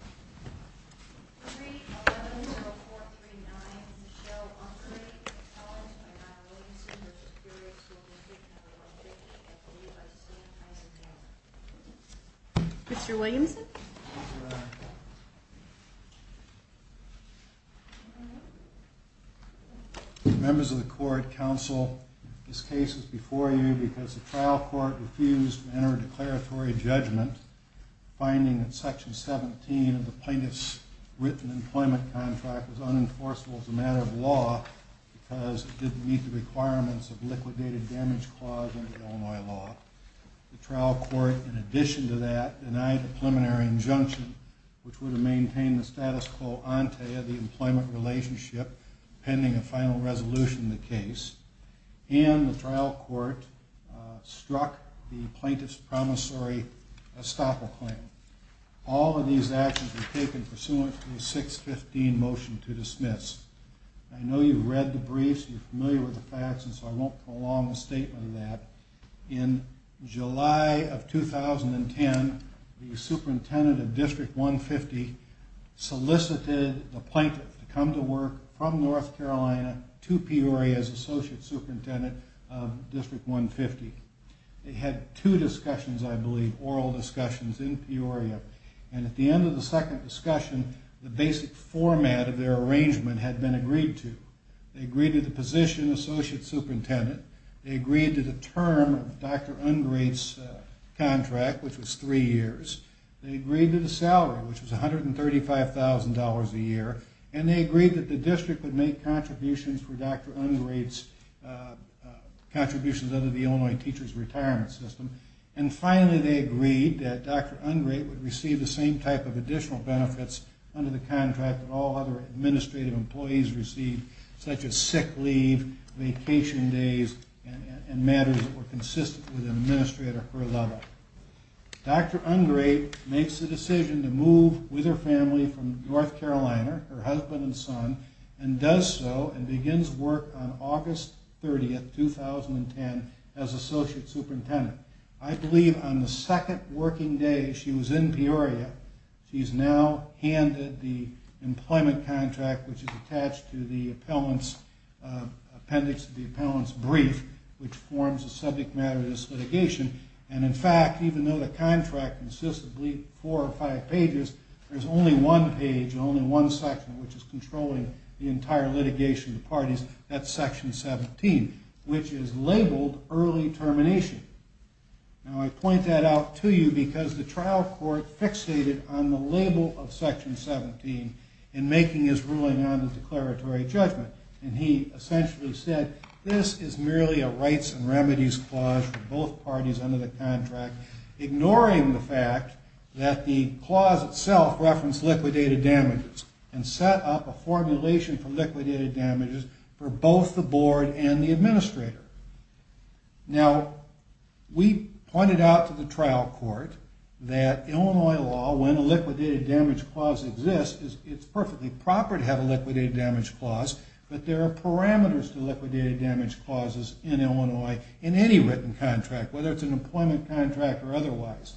at the Levi's St. Isaac's Yard. Mr. Williamson? Members of the court, counsel, this case is before you because the trial court refused to enter a declaratory judgment finding that section 17 of the plaintiff's written employment contract was unenforceable as a matter of law because it didn't meet the requirements of liquidated damage clause in Illinois law. The trial court, in addition to that, denied the preliminary injunction which would have maintained the status quo ante of the employment relationship pending a final resolution of the case, and the trial court struck the plaintiff's promissory estoppel claim. All of these actions were taken pursuant to the 615 motion to dismiss. I know you've read the briefs, you're familiar with the facts, and so I won't prolong the statement of that. In July of 2010, the superintendent of District 150 solicited the plaintiff to come to work from North Carolina to Peoria as associate superintendent of District 150. They had two discussions, I believe, oral discussions in Peoria, and at the end of the second discussion, the basic format of their arrangement had been agreed to. They agreed to the position of associate superintendent, they agreed to the term of Dr. Ungrate's contract, which was three years. They agreed to the salary, which was $135,000 a year, and they agreed that the district would make contributions for Dr. Ungrate's contributions under the Illinois Teachers Retirement System. And finally, they agreed that Dr. Ungrate would receive the same type of additional benefits under the contract that all other administrative employees received, such as sick leave, vacation days, and matters that were consistent with an administrator per letter. Dr. Ungrate makes the decision to move with her family from North Carolina, her husband and son, and does so and begins work on August 30, 2010, as associate superintendent. I believe on the second working day she was in Peoria, she's now handed the employment contract, which is attached to the appendix to the appellant's brief, which forms the subject matter of this litigation, and in fact, even though the contract consists of four or five pages, there's only one page and only one section which is controlling the entire litigation of the parties, that's section 17, which is labeled early termination. Now I point that out to you because the trial court fixated on the label of section 17 in making his ruling on the declaratory judgment, and he essentially said this is merely a rights and remedies clause for both parties under the contract, ignoring the fact that the clause itself referenced liquidated damages and set up a formulation for liquidated damages for both the board and the administrator. Now we pointed out to the trial court that Illinois law, when a liquidated damage clause exists, it's perfectly proper to have a liquidated damage clause, but there are parameters to liquidated damage clauses in Illinois in any written contract, whether it's an employment contract or otherwise,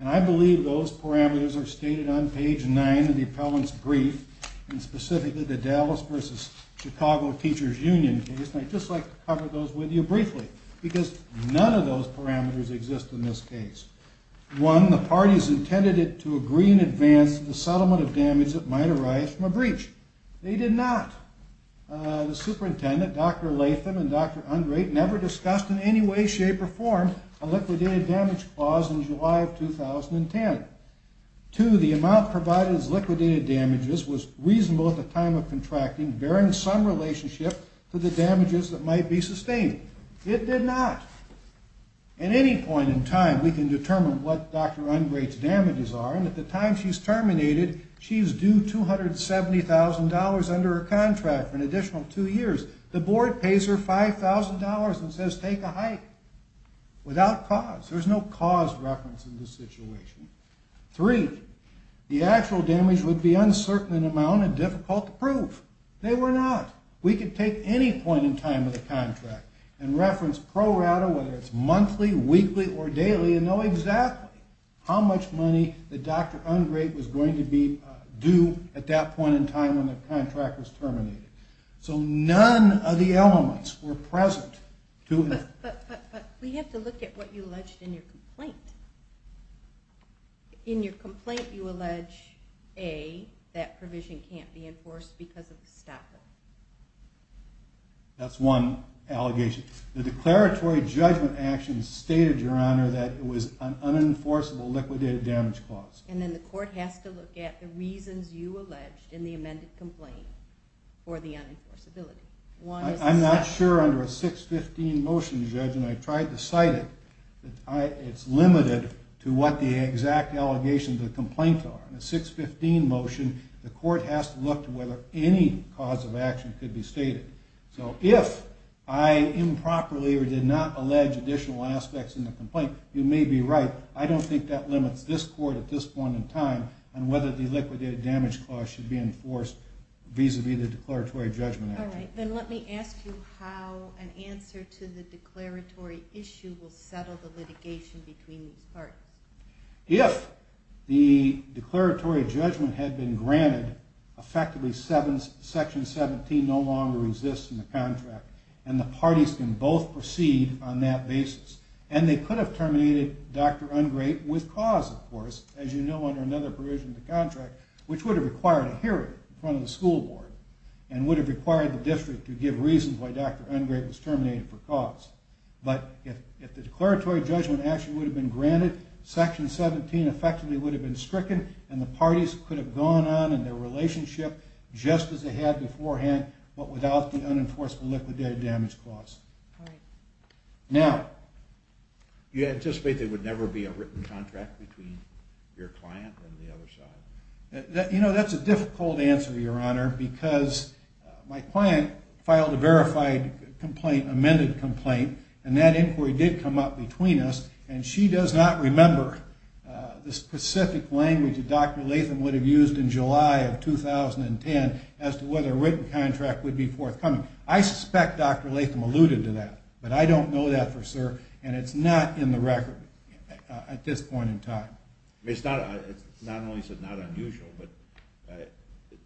and I believe those parameters are stated on page 9 of the appellant's brief, and specifically the Dallas v. Chicago Teachers Union case, and I'd just like to cover those with you briefly, because none of those parameters exist in this case. One, the parties intended it to agree in advance the settlement of damage that might arise from a breach. They did not. The superintendent, Dr. Latham and Dr. Andre, never discussed in any way, shape, or form a liquidated damage clause in July of 2010. Two, the amount provided as liquidated damages was reasonable at the time of contracting, bearing some relationship to the damages that might be sustained. It did not. At any point in time, we can determine what Dr. Ungrate's damages are, and at the time she's terminated, she's due $270,000 under her contract for an additional two years. The board pays her $5,000 and says take a hike, without cause. There's no cause reference in this situation. Three, the actual damage would be uncertain in amount and difficult to prove. They were not. We could take any point in time of the contract and reference pro rata, whether it's monthly, weekly, or daily, and know exactly how much money that Dr. Ungrate was going to be due at that point in time when the contract was terminated. So none of the elements were present. But we have to look at what you alleged in your complaint. In your complaint, you allege, A, that provision can't be enforced because of the stopper. That's one allegation. The declaratory judgment action stated, Your Honor, that it was an unenforceable liquidated damage clause. And then the court has to look at the reasons you alleged in the amended complaint for the unenforceability. I'm not sure under a 615 motion, Judge, and I tried to cite it, it's limited to what the exact allegations of the complaint are. In a 615 motion, the court has to look to whether any cause of action could be stated. So if I improperly or did not allege additional aspects in the complaint, you may be right. I don't think that limits this court at this point in time on whether the liquidated damage clause should be enforced vis-a-vis the declaratory judgment action. All right, then let me ask you how an answer to the declaratory issue will settle the litigation between these parties. If the declaratory judgment had been granted, effectively Section 17 no longer exists in the contract, and the parties can both proceed on that basis. And they could have terminated Dr. Ungrate with cause, of course, as you know under another provision of the contract, which would have required a hearing in front of the school board, and would have required the district to give reasons why Dr. Ungrate was terminated for cause. But if the declaratory judgment action would have been granted, Section 17 effectively would have been stricken, and the parties could have gone on in their relationship just as they had beforehand, but without the unenforceable liquidated damage clause. Now, you anticipate there would never be a written contract between your client and the other side? You know, that's a difficult answer, Your Honor, because my client filed a verified complaint, amended complaint, and that inquiry did come up between us, and she does not remember the specific language that Dr. Latham would have used in July of 2010 as to whether a written contract would be forthcoming. I suspect Dr. Latham alluded to that, but I don't know that for sure, and it's not in the record at this point in time. It's not only not unusual, but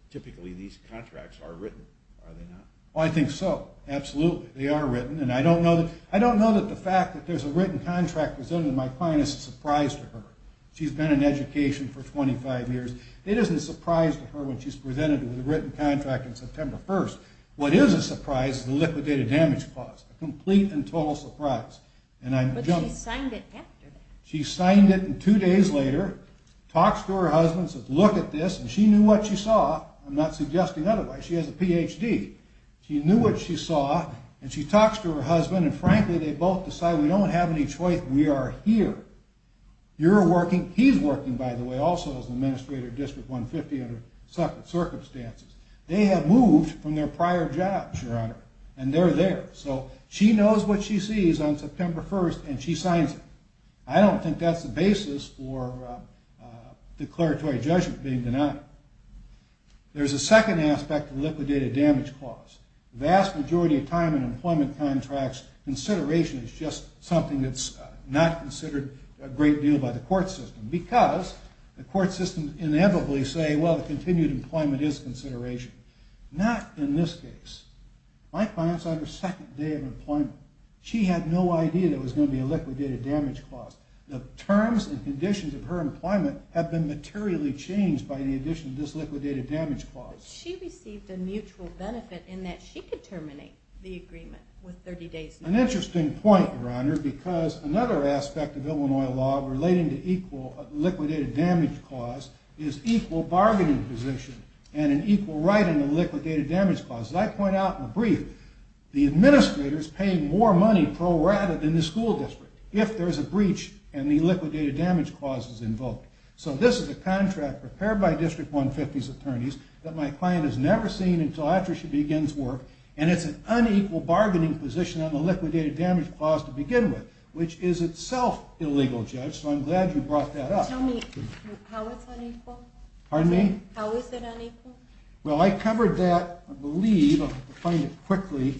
typically these contracts are written, are they not? I think so, absolutely. They are written, and I don't know that the fact that there's a written contract presented to my client is a surprise to her. She's been in education for 25 years. It isn't a surprise to her when she's presented with a written contract on September 1st. What is a surprise is the liquidated damage clause, a complete and total surprise. But she signed it after that. She signed it, and two days later, talks to her husband, says, look at this, and she knew what she saw. I'm not suggesting otherwise. She has a PhD. She knew what she saw, and she talks to her husband, and frankly, they both decide we don't have any choice. We are here. You're working. He's working, by the way, also as an administrator at District 150 under certain circumstances. They have moved from their prior jobs, Your Honor, and they're there. So she knows what she sees on September 1st, and she signs it. I don't think that's the basis for declaratory judgment being denied. There's a second aspect to the liquidated damage clause. The vast majority of time in employment contracts, consideration is just something that's not considered a great deal by the court system because the court systems inevitably say, well, the continued employment is consideration. Not in this case. My client's on her second day of employment. She had no idea there was going to be a liquidated damage clause. The terms and conditions of her employment have been materially changed by the addition of this liquidated damage clause. She received a mutual benefit in that she could terminate the agreement with 30 days. An interesting point, Your Honor, because another aspect of Illinois law relating to liquidated damage clause is equal bargaining position and an equal right in the liquidated damage clause. As I point out in the brief, the administrator is paying more money pro rata than the school district if there's a breach and the liquidated damage clause is invoked. So this is a contract prepared by District 150's attorneys that my client has never seen until after she begins work, and it's an unequal bargaining position on the liquidated damage clause to begin with, which is itself illegal, Judge, so I'm glad you brought that up. Tell me how it's unequal? Pardon me? How is it unequal? Well, I covered that, I believe, if I can find it quickly.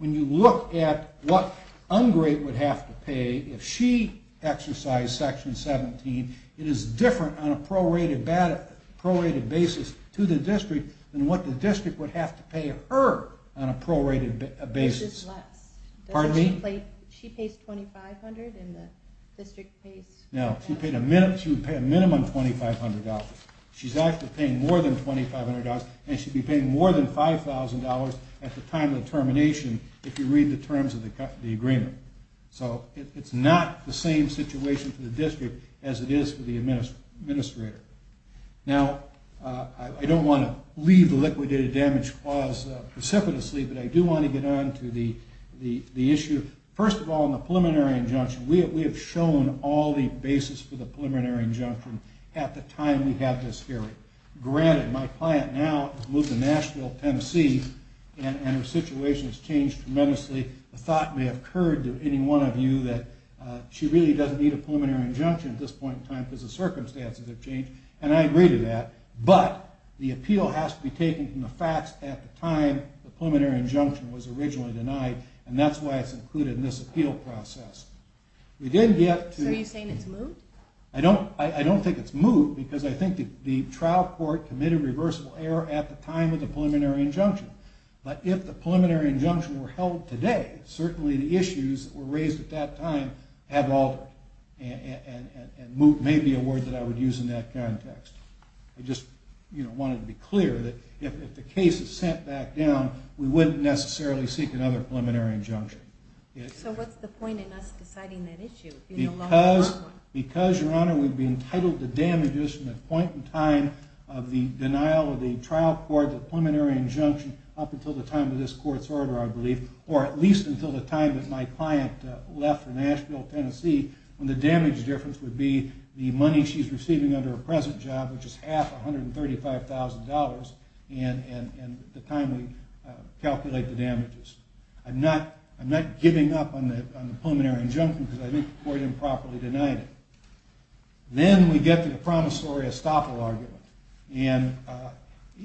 When you look at what Ungrate would have to pay if she exercised Section 17, it is different on a pro rata basis to the district than what the district would have to pay her on a pro rata basis. Which is less. Pardon me? She pays $2,500 and the district pays... Now, she would pay a minimum $2,500. She's actually paying more than $2,500 and she'd be paying more than $5,000 at the time of termination if you read the terms of the agreement. So it's not the same situation for the district as it is for the administrator. Now, I don't want to leave the liquidated damage clause precipitously, but I do want to get on to the issue. First of all, in the preliminary injunction, we have shown all the basis for the preliminary injunction at the time we have this hearing. Granted, my client now has moved to Nashville, Tennessee, and her situation has changed tremendously. The thought may have occurred to any one of you that she really doesn't need a preliminary injunction at this point in time because the circumstances have changed, and I agree to that. But the appeal has to be taken from the facts at the time the preliminary injunction was originally denied, and that's why it's included in this appeal process. So are you saying it's moved? I don't think it's moved because I think the trial court committed reversible error at the time of the preliminary injunction. But if the preliminary injunction were held today, certainly the issues that were raised at that time have altered. And moved may be a word that I would use in that context. I just wanted to be clear that if the case is sent back down, we wouldn't necessarily seek another preliminary injunction. So what's the point in us deciding that issue? Because, Your Honor, we'd be entitled to damages from the point in time of the denial of the trial court, the preliminary injunction, up until the time of this court's order, I believe, or at least until the time that my client left for Nashville, Tennessee, when the damage difference would be the money she's receiving under her present job, which is half $135,000, and the time we calculate the damages. I'm not giving up on the preliminary injunction because I think the court improperly denied it. Then we get to the promissory estoppel argument. And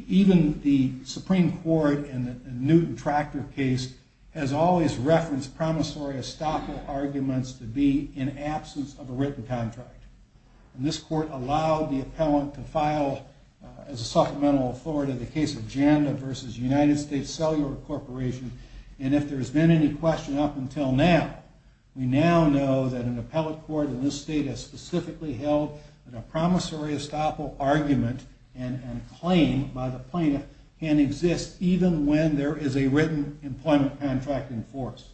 even the Supreme Court in the Newton Tractor case has always referenced promissory estoppel arguments to be in absence of a written contract. And this court allowed the appellant to file, as a supplemental authority, the case of Janda v. United States Cellular Corporation. And if there's been any question up until now, we now know that an appellate court in this state has specifically held that a promissory estoppel argument and claim by the plaintiff can exist even when there is a written employment contract in force.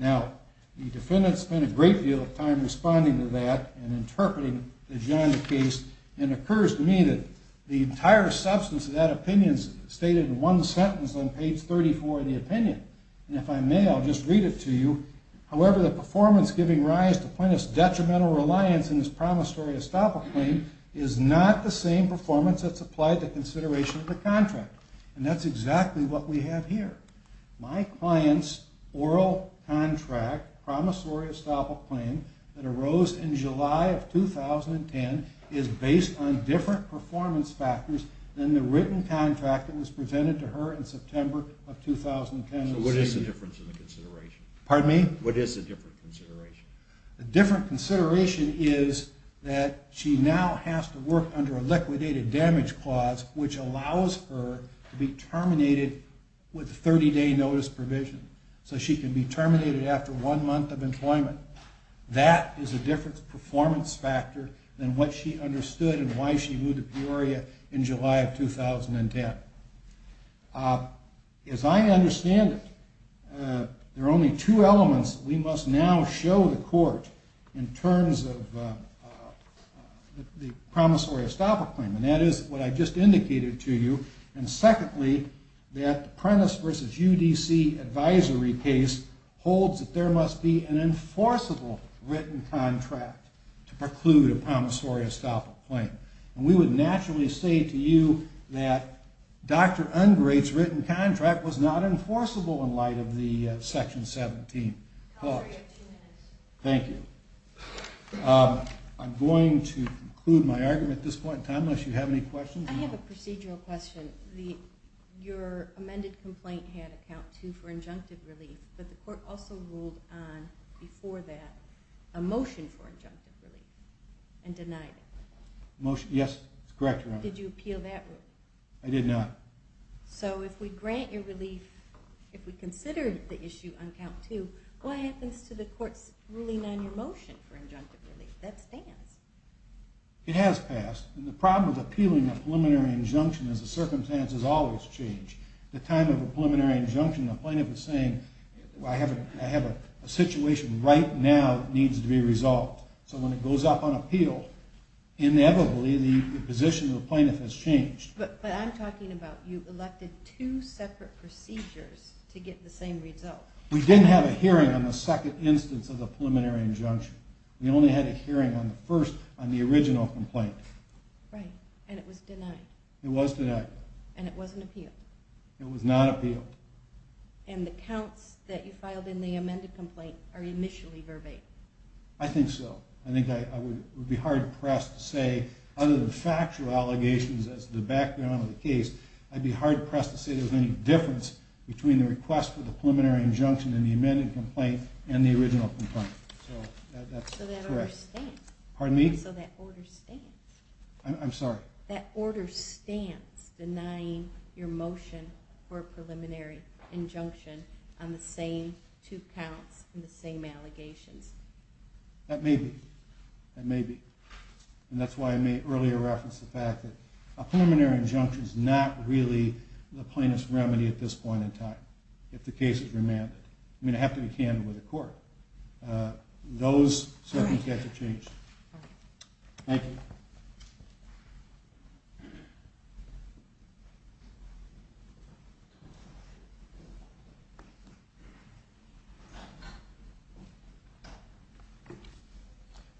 Now, the defendant spent a great deal of time responding to that and interpreting the Janda case, and it occurs to me that the entire substance of that opinion is stated in one sentence on page 34 of the opinion. And if I may, I'll just read it to you. And that's exactly what we have here. My client's oral contract promissory estoppel claim that arose in July of 2010 is based on different performance factors than the written contract that was presented to her in September of 2010. So what is the difference in the consideration? Pardon me? What is the different consideration? The different consideration is that she now has to work under a liquidated damage clause, which allows her to be terminated with a 30-day notice provision. So she can be terminated after one month of employment. That is a different performance factor than what she understood and why she moved to Peoria in July of 2010. As I understand it, there are only two elements we must now show the court in terms of the promissory estoppel claim, and that is what I just indicated to you. And secondly, that the Prentiss v. UDC advisory case holds that there must be an enforceable written contract to preclude a promissory estoppel claim. And we would naturally say to you that Dr. Ungrate's written contract was not enforceable in light of the Section 17 clause. You have two minutes. Thank you. I'm going to conclude my argument at this point in time, unless you have any questions. I have a procedural question. Your amended complaint had a count 2 for injunctive relief, but the court also ruled on, before that, a motion for injunctive relief and denied it. Yes, that's correct, Your Honor. Did you appeal that ruling? I did not. So if we grant your relief, if we consider the issue on count 2, what happens to the court's ruling on your motion for injunctive relief? That stands. It has passed. And the problem with appealing a preliminary injunction is the circumstances always change. At the time of a preliminary injunction, the plaintiff was saying, I have a situation right now that needs to be resolved. So when it goes up on appeal, inevitably the position of the plaintiff has changed. But I'm talking about you elected two separate procedures to get the same result. We didn't have a hearing on the second instance of the preliminary injunction. We only had a hearing on the first, on the original complaint. Right, and it was denied. It was denied. And it wasn't appealed. It was not appealed. And the counts that you filed in the amended complaint are initially verbatim. I think so. I think I would be hard-pressed to say, other than factual allegations as the background of the case, I'd be hard-pressed to say there's any difference between the request for the preliminary injunction in the amended complaint and the original complaint. So that's correct. So that order stands. Pardon me? So that order stands. I'm sorry? That order stands, denying your motion for a preliminary injunction on the same two counts and the same allegations. That may be. That may be. And that's why I made earlier reference to the fact that a preliminary injunction is not really the plaintiff's remedy at this point in time, if the case is remanded. I mean, I have to be candid with the court. Those circumstances have changed. Thank you.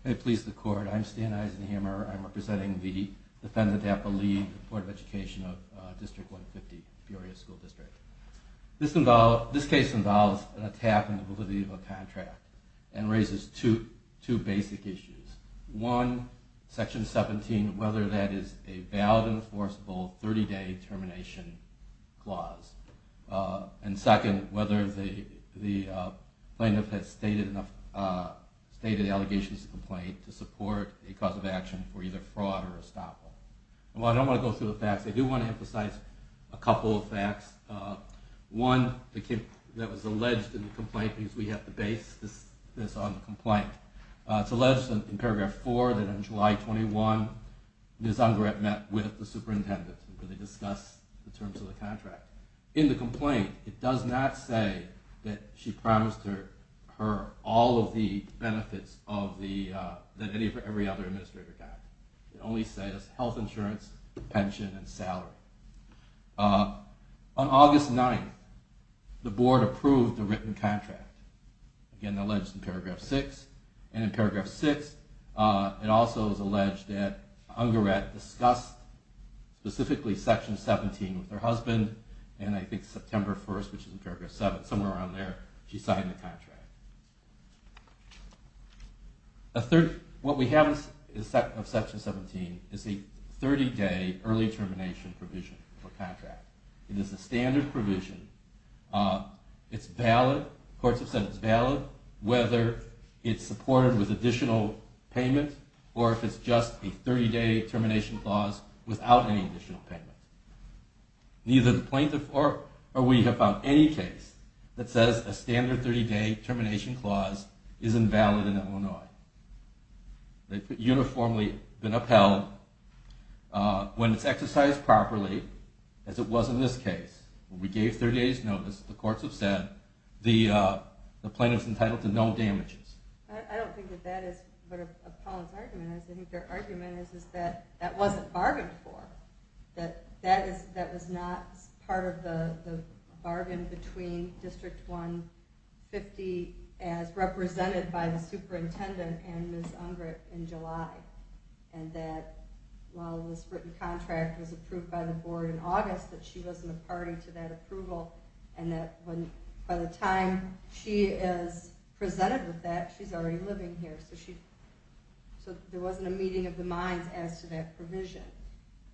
May it please the Court, I'm Stan Eisenhammer. I'm representing the Defendant, Tappa Lee, the Board of Education of District 150, Peoria School District. This case involves an attack on the validity of a contract and raises two basic issues. One, Section 17, whether that is a valid, enforceable 30-day termination clause. And second, whether the plaintiff has stated enough allegations in the complaint to support a cause of action for either fraud or estoppel. Well, I don't want to go through the facts. I do want to emphasize a couple of facts. One, that was alleged in the complaint, because we have to base this on the complaint. It's alleged in paragraph 4 that on July 21, Ms. Ungeret met with the superintendent where they discussed the terms of the contract. In the complaint, it does not say that she promised her all of the benefits that every other administrator got. It only says health insurance, pension, and salary. On August 9, the Board approved the written contract. Again, that was alleged in paragraph 6. And in paragraph 6, it also is alleged that Ungeret discussed specifically Section 17 with her husband, and I think September 1, which is in paragraph 7, somewhere around there, she signed the contract. What we have of Section 17 is a 30-day early termination provision for contract. It is a standard provision. Courts have said it's valid whether it's supported with additional payment or if it's just a 30-day termination clause without any additional payment. Neither the plaintiff nor we have found any case that says a standard 30-day termination clause is invalid in Illinois. They've uniformly been upheld. When it's exercised properly, as it was in this case, we gave 30 days notice, the courts have said, the plaintiff is entitled to no damages. I don't think that that is what Apollon's argument is. I think their argument is that that wasn't bargained for. That that was not part of the bargain between District 150 as represented by the superintendent and Ms. Ungeret in July. And that while this written contract was approved by the Board in August, that she wasn't a party to that approval, and that by the time she is presented with that, she's already living here. So there wasn't a meeting of the minds as to that provision.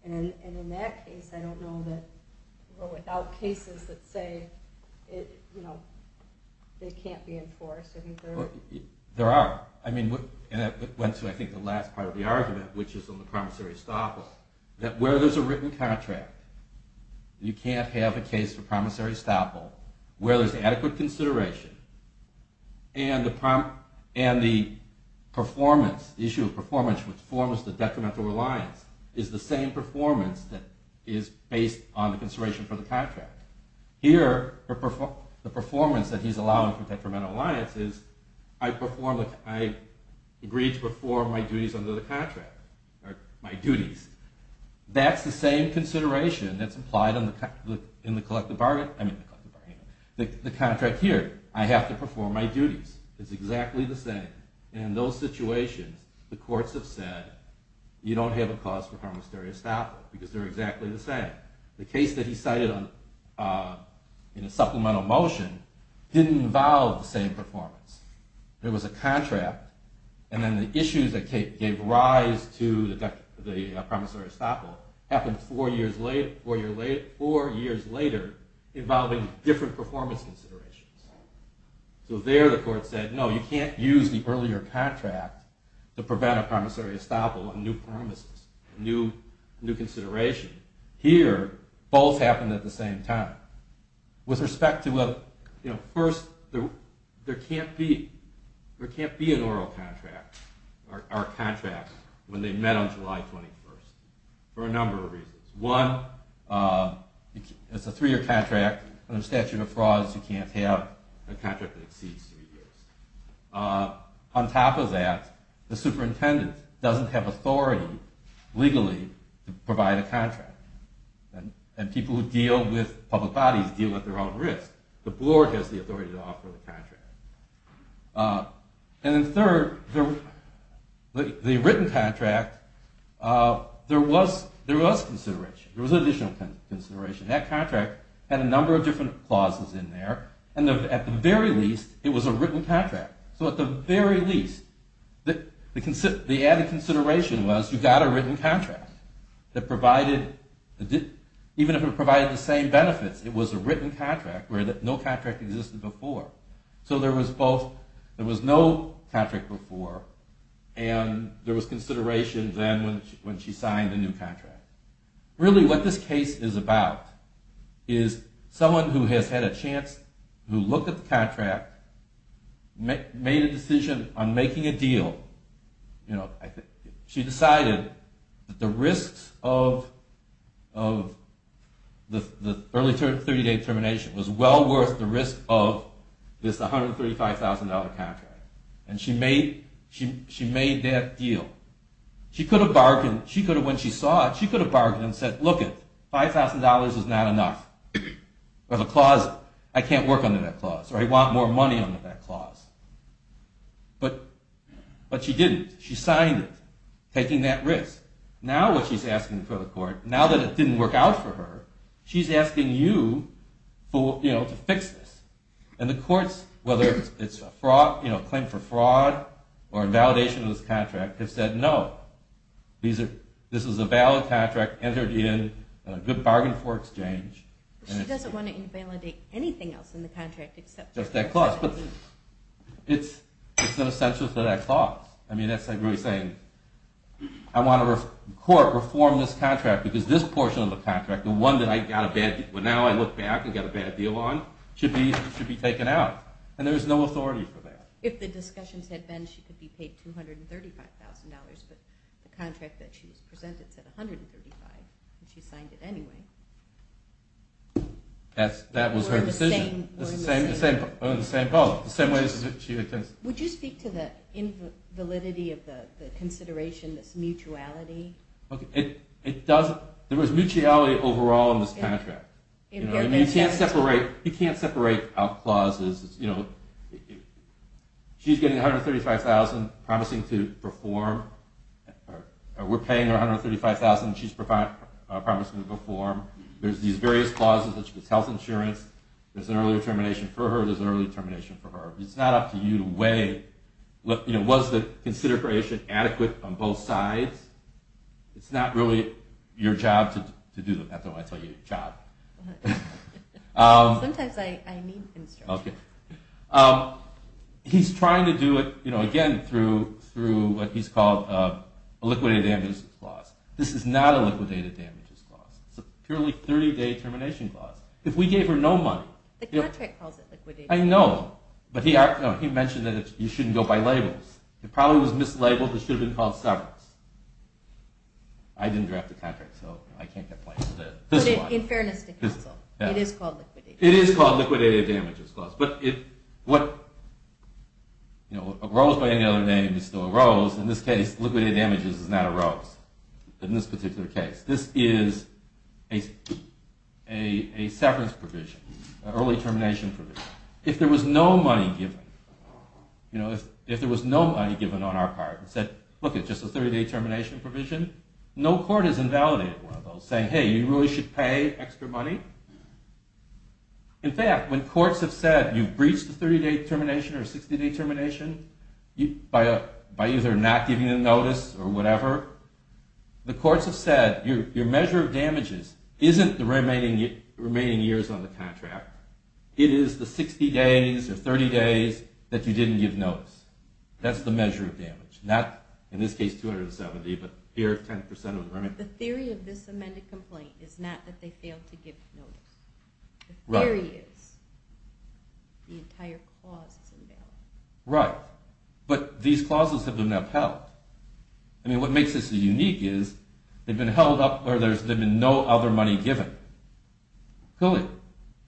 And in that case, I don't know that without cases that say it can't be enforced. There are. And that went to, I think, the last part of the argument, which is on the promissory stop law. That where there's a written contract, you can't have a case for promissory stop law, where there's adequate consideration, and the issue of performance which forms the detrimental reliance is the same performance that is based on the consideration for the contract. Here, the performance that he's allowing for detrimental reliance is I agreed to perform my duties under the contract. That's the same consideration that's applied in the collective bargain. The contract here, I have to perform my duties. It's exactly the same. In those situations, the courts have said you don't have a cause for promissory stop law because they're exactly the same. The case that he cited in a supplemental motion didn't involve the same performance. There was a contract, and then the issues that gave rise to the promissory stop law happened four years later involving different performance considerations. So there, the court said, no, you can't use the earlier contract to prevent a promissory stop law and new promises, new consideration. Here, both happened at the same time. With respect to, first, there can't be an oral contract or contract when they met on July 21st for a number of reasons. One, it's a three-year contract under statute of frauds, you can't have a contract that exceeds three years. On top of that, the superintendent doesn't have authority legally to provide a contract. And people who deal with public bodies deal at their own risk. The board has the authority to offer the contract. And then third, the written contract, there was consideration, there was additional consideration. That contract had a number of different clauses in there, and at the very least, it was a written contract. So at the very least, the added consideration was you got a written contract that provided, even if it provided the same benefits, it was a written contract where no contract existed before. So there was both, there was no contract before, and there was consideration then when she signed a new contract. Really what this case is about is someone who has had a chance to look at the contract, made a decision on making a deal. She decided that the risks of the early 30-day termination was well worth the risk of this $135,000 contract. And she made that deal. She could have bargained, she could have, when she saw it, she could have bargained and said, look it, $5,000 is not enough. There's a clause, I can't work under that clause, or I want more money under that clause. But she didn't. She signed it, taking that risk. Now what she's asking for the court, now that it didn't work out for her, she's asking you to fix this. And the courts, whether it's a fraud, a claim for fraud, or a validation of this contract, have said no. This is a valid contract, entered in, a good bargain for exchange. She doesn't want to invalidate anything else in the contract except that clause. It's an essential for that clause. I mean, that's like really saying, I want the court to reform this contract because this portion of the contract, the one that now I look back and got a bad deal on, should be taken out. And there's no authority for that. If the discussions had been she could be paid $235,000, but the contract that she presented said $135,000. She signed it anyway. That was her decision. We're in the same boat. Would you speak to the validity of the consideration, this mutuality? There was mutuality overall in this contract. You can't separate out clauses. She's getting $135,000 promising to perform. We're paying her $135,000 and she's promising to perform. There's these various clauses, such as health insurance. There's an early termination for her. There's an early termination for her. It's not up to you to weigh. Was the consideration adequate on both sides? It's not really your job to do that. That's not why I tell you your job. Sometimes I need instruction. He's trying to do it, again, through what he's called a liquidated damages clause. This is not a liquidated damages clause. It's a purely 30-day termination clause. If we gave her no money. The contract calls it liquidated damages. I know. He mentioned that you shouldn't go by labels. It probably was mislabeled. It should have been called severance. I didn't draft the contract, so I can't complain. In fairness to counsel, it is called liquidated. It is called liquidated damages clause. A rose by any other name is still a rose. In this case, liquidated damages is not a rose. In this particular case. This is a severance provision, an early termination provision. If there was no money given. If there was no money given on our part, and said, look, it's just a 30-day termination provision. No court has invalidated one of those. Saying, hey, you really should pay extra money. In fact, when courts have said you've breached a 30-day termination or a 60-day termination by either not giving a notice or whatever, the courts have said your measure of damages isn't the remaining years on the contract. It is the 60 days or 30 days that you didn't give notice. That's the measure of damage. Not, in this case, 270, but here, 10% of the remaining. The theory of this amended complaint is not that they failed to give notice. The theory is the entire clause is invalid. Right. But these clauses have been upheld. I mean, what makes this unique is they've been held up or there's been no other money given. Clearly.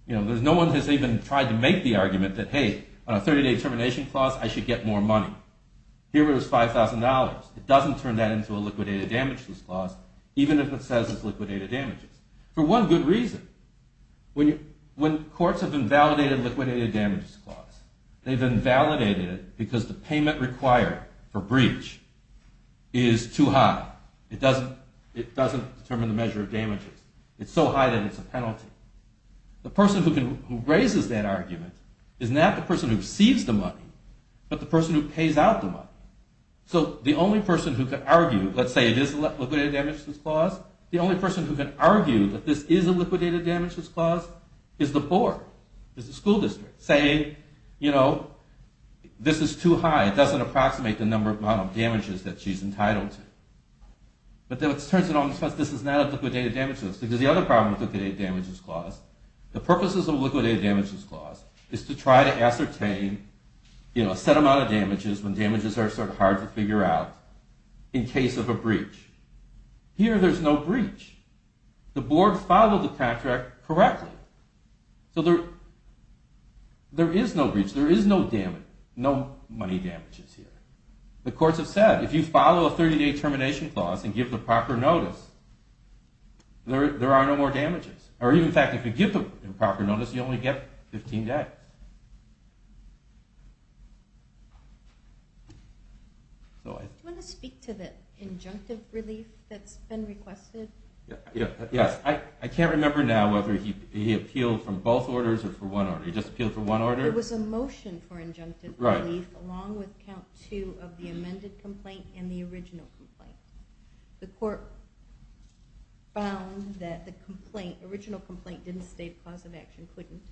No one has even tried to make the argument that, hey, on a 30-day termination clause, I should get more money. Here it was $5,000. It doesn't turn that into a liquidated damages clause, even if it says it's liquidated damages. For one good reason. When courts have invalidated liquidated damages clause, they've invalidated it because the payment required for breach is too high. It doesn't determine the measure of damages. It's so high that it's a penalty. The person who raises that argument is not the person who receives the money, but the person who pays out the money. So the only person who can argue, let's say it is a liquidated damages clause, the only person who can argue that this is a liquidated damages clause is the board, is the school district, saying, you know, this is too high. It doesn't approximate the number of damages that she's entitled to. But then it turns out this is not a liquidated damages clause because the other problem with liquidated damages clause, the purposes of a liquidated damages clause, is to try to ascertain a set amount of damages when damages are sort of hard to figure out in case of a breach. Here there's no breach. The board followed the contract correctly. So there is no breach. There is no money damages here. The courts have said, if you follow a 30-day termination clause and give the proper notice, there are no more damages. Or in fact, if you give the proper notice, you only get 15 days. Do you want to speak to the injunctive relief that's been requested? Yes. I can't remember now whether he appealed for both orders or for one order. He just appealed for one order. It was a motion for injunctive relief along with count two of the amended complaint and the original complaint. The court found that the original complaint didn't state cause of action, couldn't,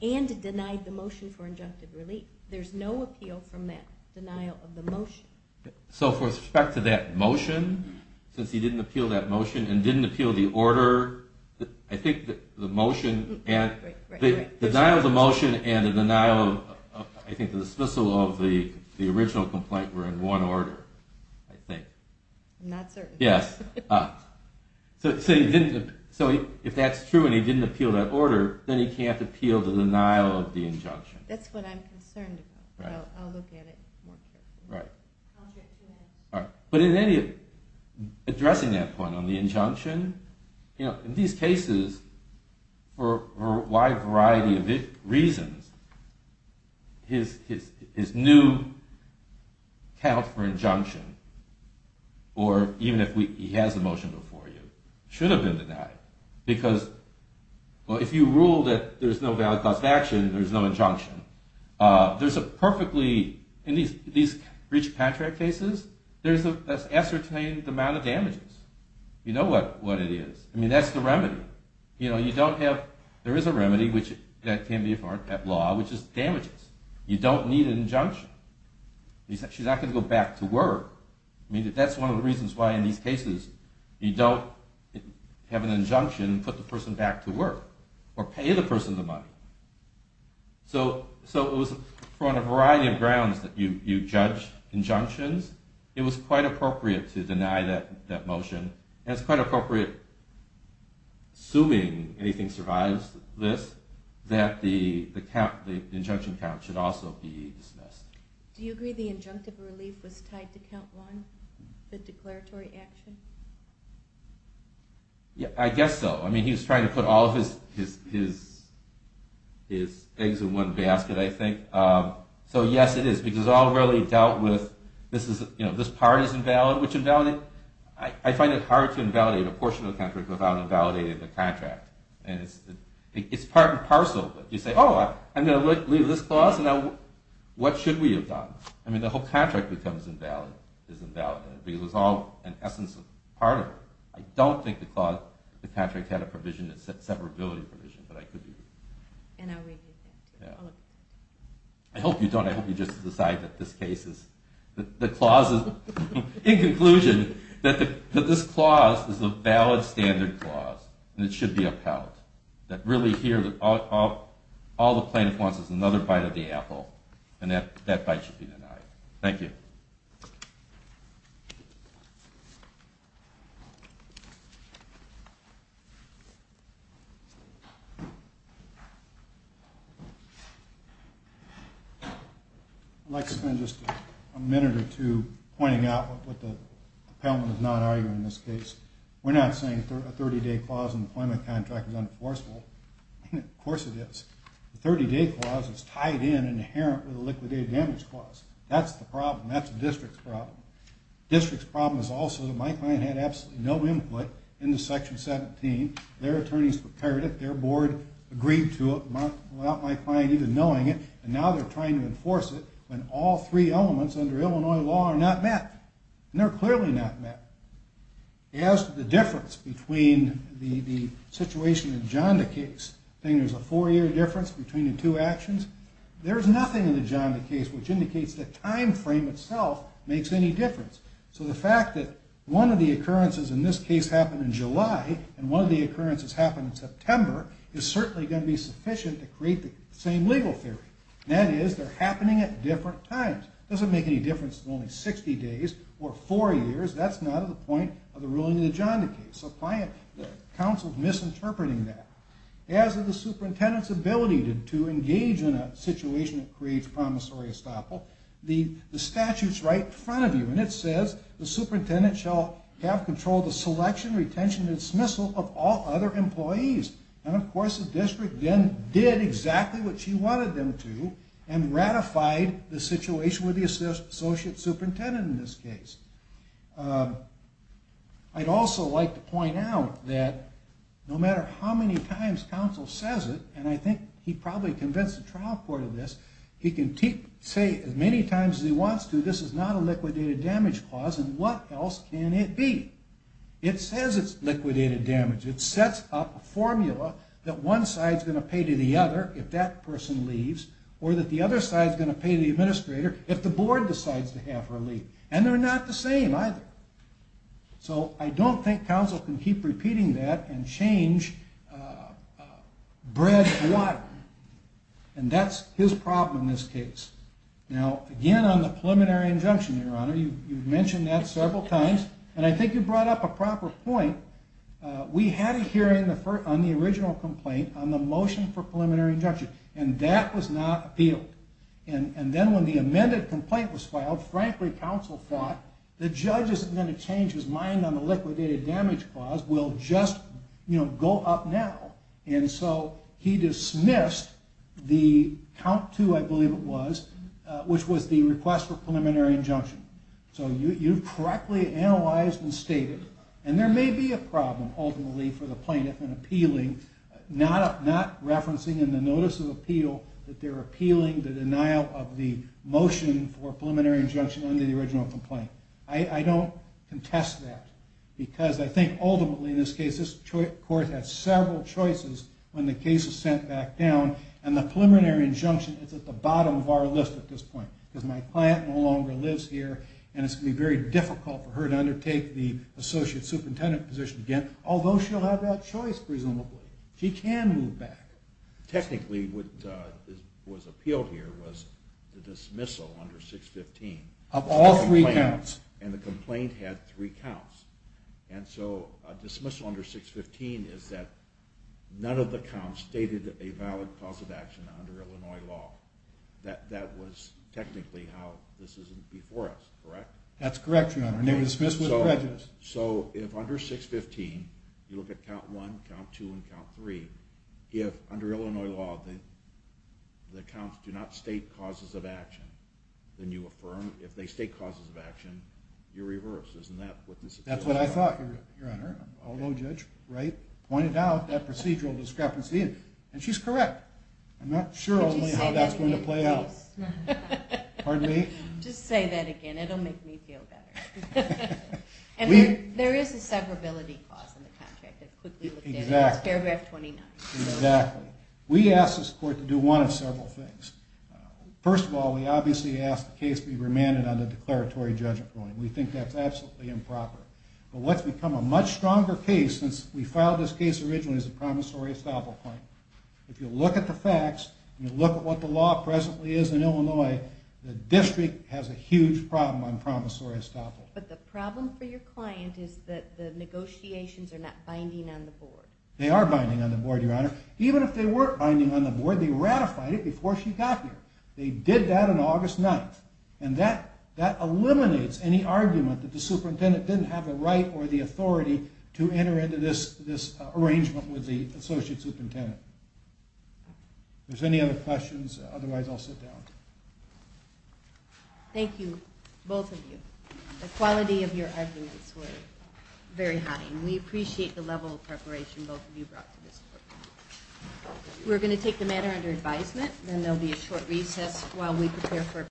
and denied the motion for injunctive relief. There's no appeal from that denial of the motion. So with respect to that motion, since he didn't appeal that motion and didn't appeal the order, I think the motion... The denial of the motion and the denial of, I think, the dismissal of the original complaint were in one order, I think. I'm not certain. Yes. So if that's true and he didn't appeal that order, then he can't appeal the denial of the injunction. That's what I'm concerned about. I'll look at it more carefully. Right. But in any... Addressing that point on the injunction, in these cases, for a wide variety of reasons, his new count for injunction, or even if he has the motion before you, should have been denied. Because if you rule that there's no valid cause of action, there's no injunction. There's a perfectly... In these breach of contract cases, there's an ascertained amount of damages. You know what it is. I mean, that's the remedy. You know, you don't have... There is a remedy, which can be a part of that law, which is damages. You don't need an injunction. He's actually not going to go back to work. I mean, that's one of the reasons why in these cases you don't have an injunction and put the person back to work or pay the person the money. So it was for a variety of grounds that you judge injunctions. It was quite appropriate to deny that motion. And it's quite appropriate, assuming anything survives this, that the injunction count should also be dismissed. Do you agree the injunctive relief was tied to count one, the declaratory action? I guess so. I mean, he was trying to put all of his eggs in one basket, I think. So yes, it is. Because it's all really dealt with. This part is invalid, which invalidate... I find it hard to invalidate a portion of the contract without invalidating the contract. And it's part and parcel. You say, oh, I'm going to leave this clause, and now what should we have done? I mean, the whole contract becomes invalid, is invalid. Because it was all, in essence, a part of it. I don't think the contract had a provision that said severability provision, but I could be wrong. I hope you don't. I hope you just decide that this case is... In conclusion, that this clause is a valid standard clause, and it should be upheld. That really here, all the plaintiff wants is another bite of the apple, and that bite should be denied. Thank you. Thank you. I'd like to spend just a minute or two pointing out what the appellant is not arguing in this case. We're not saying a 30-day clause in the employment contract is unenforceable. Of course it is. The 30-day clause is tied in and inherent with the liquidated damage clause. That's the problem. That's the district's problem. District's problem is also that my client had absolutely no input into Section 17. Their attorneys prepared it. Their board agreed to it without my client even knowing it, and now they're trying to enforce it when all three elements under Illinois law are not met. And they're clearly not met. As to the difference between the situation in Janda case, I think there's a four-year difference between the two actions. There's nothing in the Janda case which indicates the time frame itself makes any difference. So the fact that one of the occurrences in this case happened in July and one of the occurrences happened in September is certainly going to be sufficient to create the same legal theory. That is, they're happening at different times. It doesn't make any difference if it's only 60 days or four years. That's not at the point of the ruling in the Janda case. So the counsel is misinterpreting that. As to the superintendent's ability to engage in a situation that creates promissory estoppel, the statute's right in front of you, and it says the superintendent shall have control of the selection, retention, and dismissal of all other employees. And, of course, the district then did exactly what she wanted them to and ratified the situation with the associate superintendent in this case. I'd also like to point out that no matter how many times counsel says it, and I think he probably convinced the trial court of this, he can say as many times as he wants to, this is not a liquidated damage clause and what else can it be? It says it's liquidated damage. It sets up a formula that one side's going to pay to the other if that person leaves or that the other side's going to pay to the administrator if the board decides to have her leave. And they're not the same either. So I don't think counsel can keep repeating that and change bread and water. And that's his problem in this case. Now, again, on the preliminary injunction, Your Honor, you've mentioned that several times, and I think you brought up a proper point. We had a hearing on the original complaint on the motion for preliminary injunction, and that was not appealed. And then when the amended complaint was filed, frankly, counsel thought the judge isn't going to change his mind on the liquidated damage clause, we'll just go up now. And so he dismissed the count two, I believe it was, which was the request for preliminary injunction. So you correctly analyzed and stated, and there may be a problem ultimately for the plaintiff in appealing, not referencing in the notice of appeal that they're appealing the denial of the motion for preliminary injunction under the original complaint. I don't contest that, because I think ultimately in this case, this court has several choices when the case is sent back down, and the preliminary injunction is at the bottom of our list at this point. Because my client no longer lives here, and it's going to be very difficult for her to undertake the associate superintendent position again, although she'll have that choice, presumably. She can move back. Technically, what was appealed here was the dismissal under 615. Of all three counts. And the complaint had three counts. And so a dismissal under 615 is that none of the counts stated a valid cause of action under Illinois law. That was technically how this is before us, correct? That's correct, Your Honor, and it was dismissed with prejudice. So if under 615 you look at count one, count two, and count three, if under Illinois law the counts do not state causes of action, then you affirm. If they state causes of action, you reverse. Isn't that what this is about? That's what I thought, Your Honor, although Judge Wright pointed out that procedural discrepancy, and she's correct. I'm not sure how that's going to play out. Pardon me? Just say that again. It'll make me feel better. And there is a separability clause in the contract that quickly looked at. Exactly. It's paragraph 29. Exactly. We asked this court to do one of several things. First of all, we obviously asked the case be remanded under declaratory judgment. We think that's absolutely improper. But what's become a much stronger case since we filed this case originally is a promissory estoppel claim. If you look at the facts and you look at what the law presently is in Illinois, the district has a huge problem on promissory estoppel. But the problem for your client is that the negotiations are not binding on the board. They are binding on the board, Your Honor. Even if they weren't binding on the board, they ratified it before she got here. They did that on August 9th, and that eliminates any argument that the superintendent didn't have the right or the authority to enter into this arrangement with the associate superintendent. If there's any other questions, otherwise I'll sit down. Thank you, both of you. The quality of your arguments were very high, and we appreciate the level of preparation both of you brought to this court. We're going to take the matter under advisement, and there will be a short recess while we prepare for a presentation.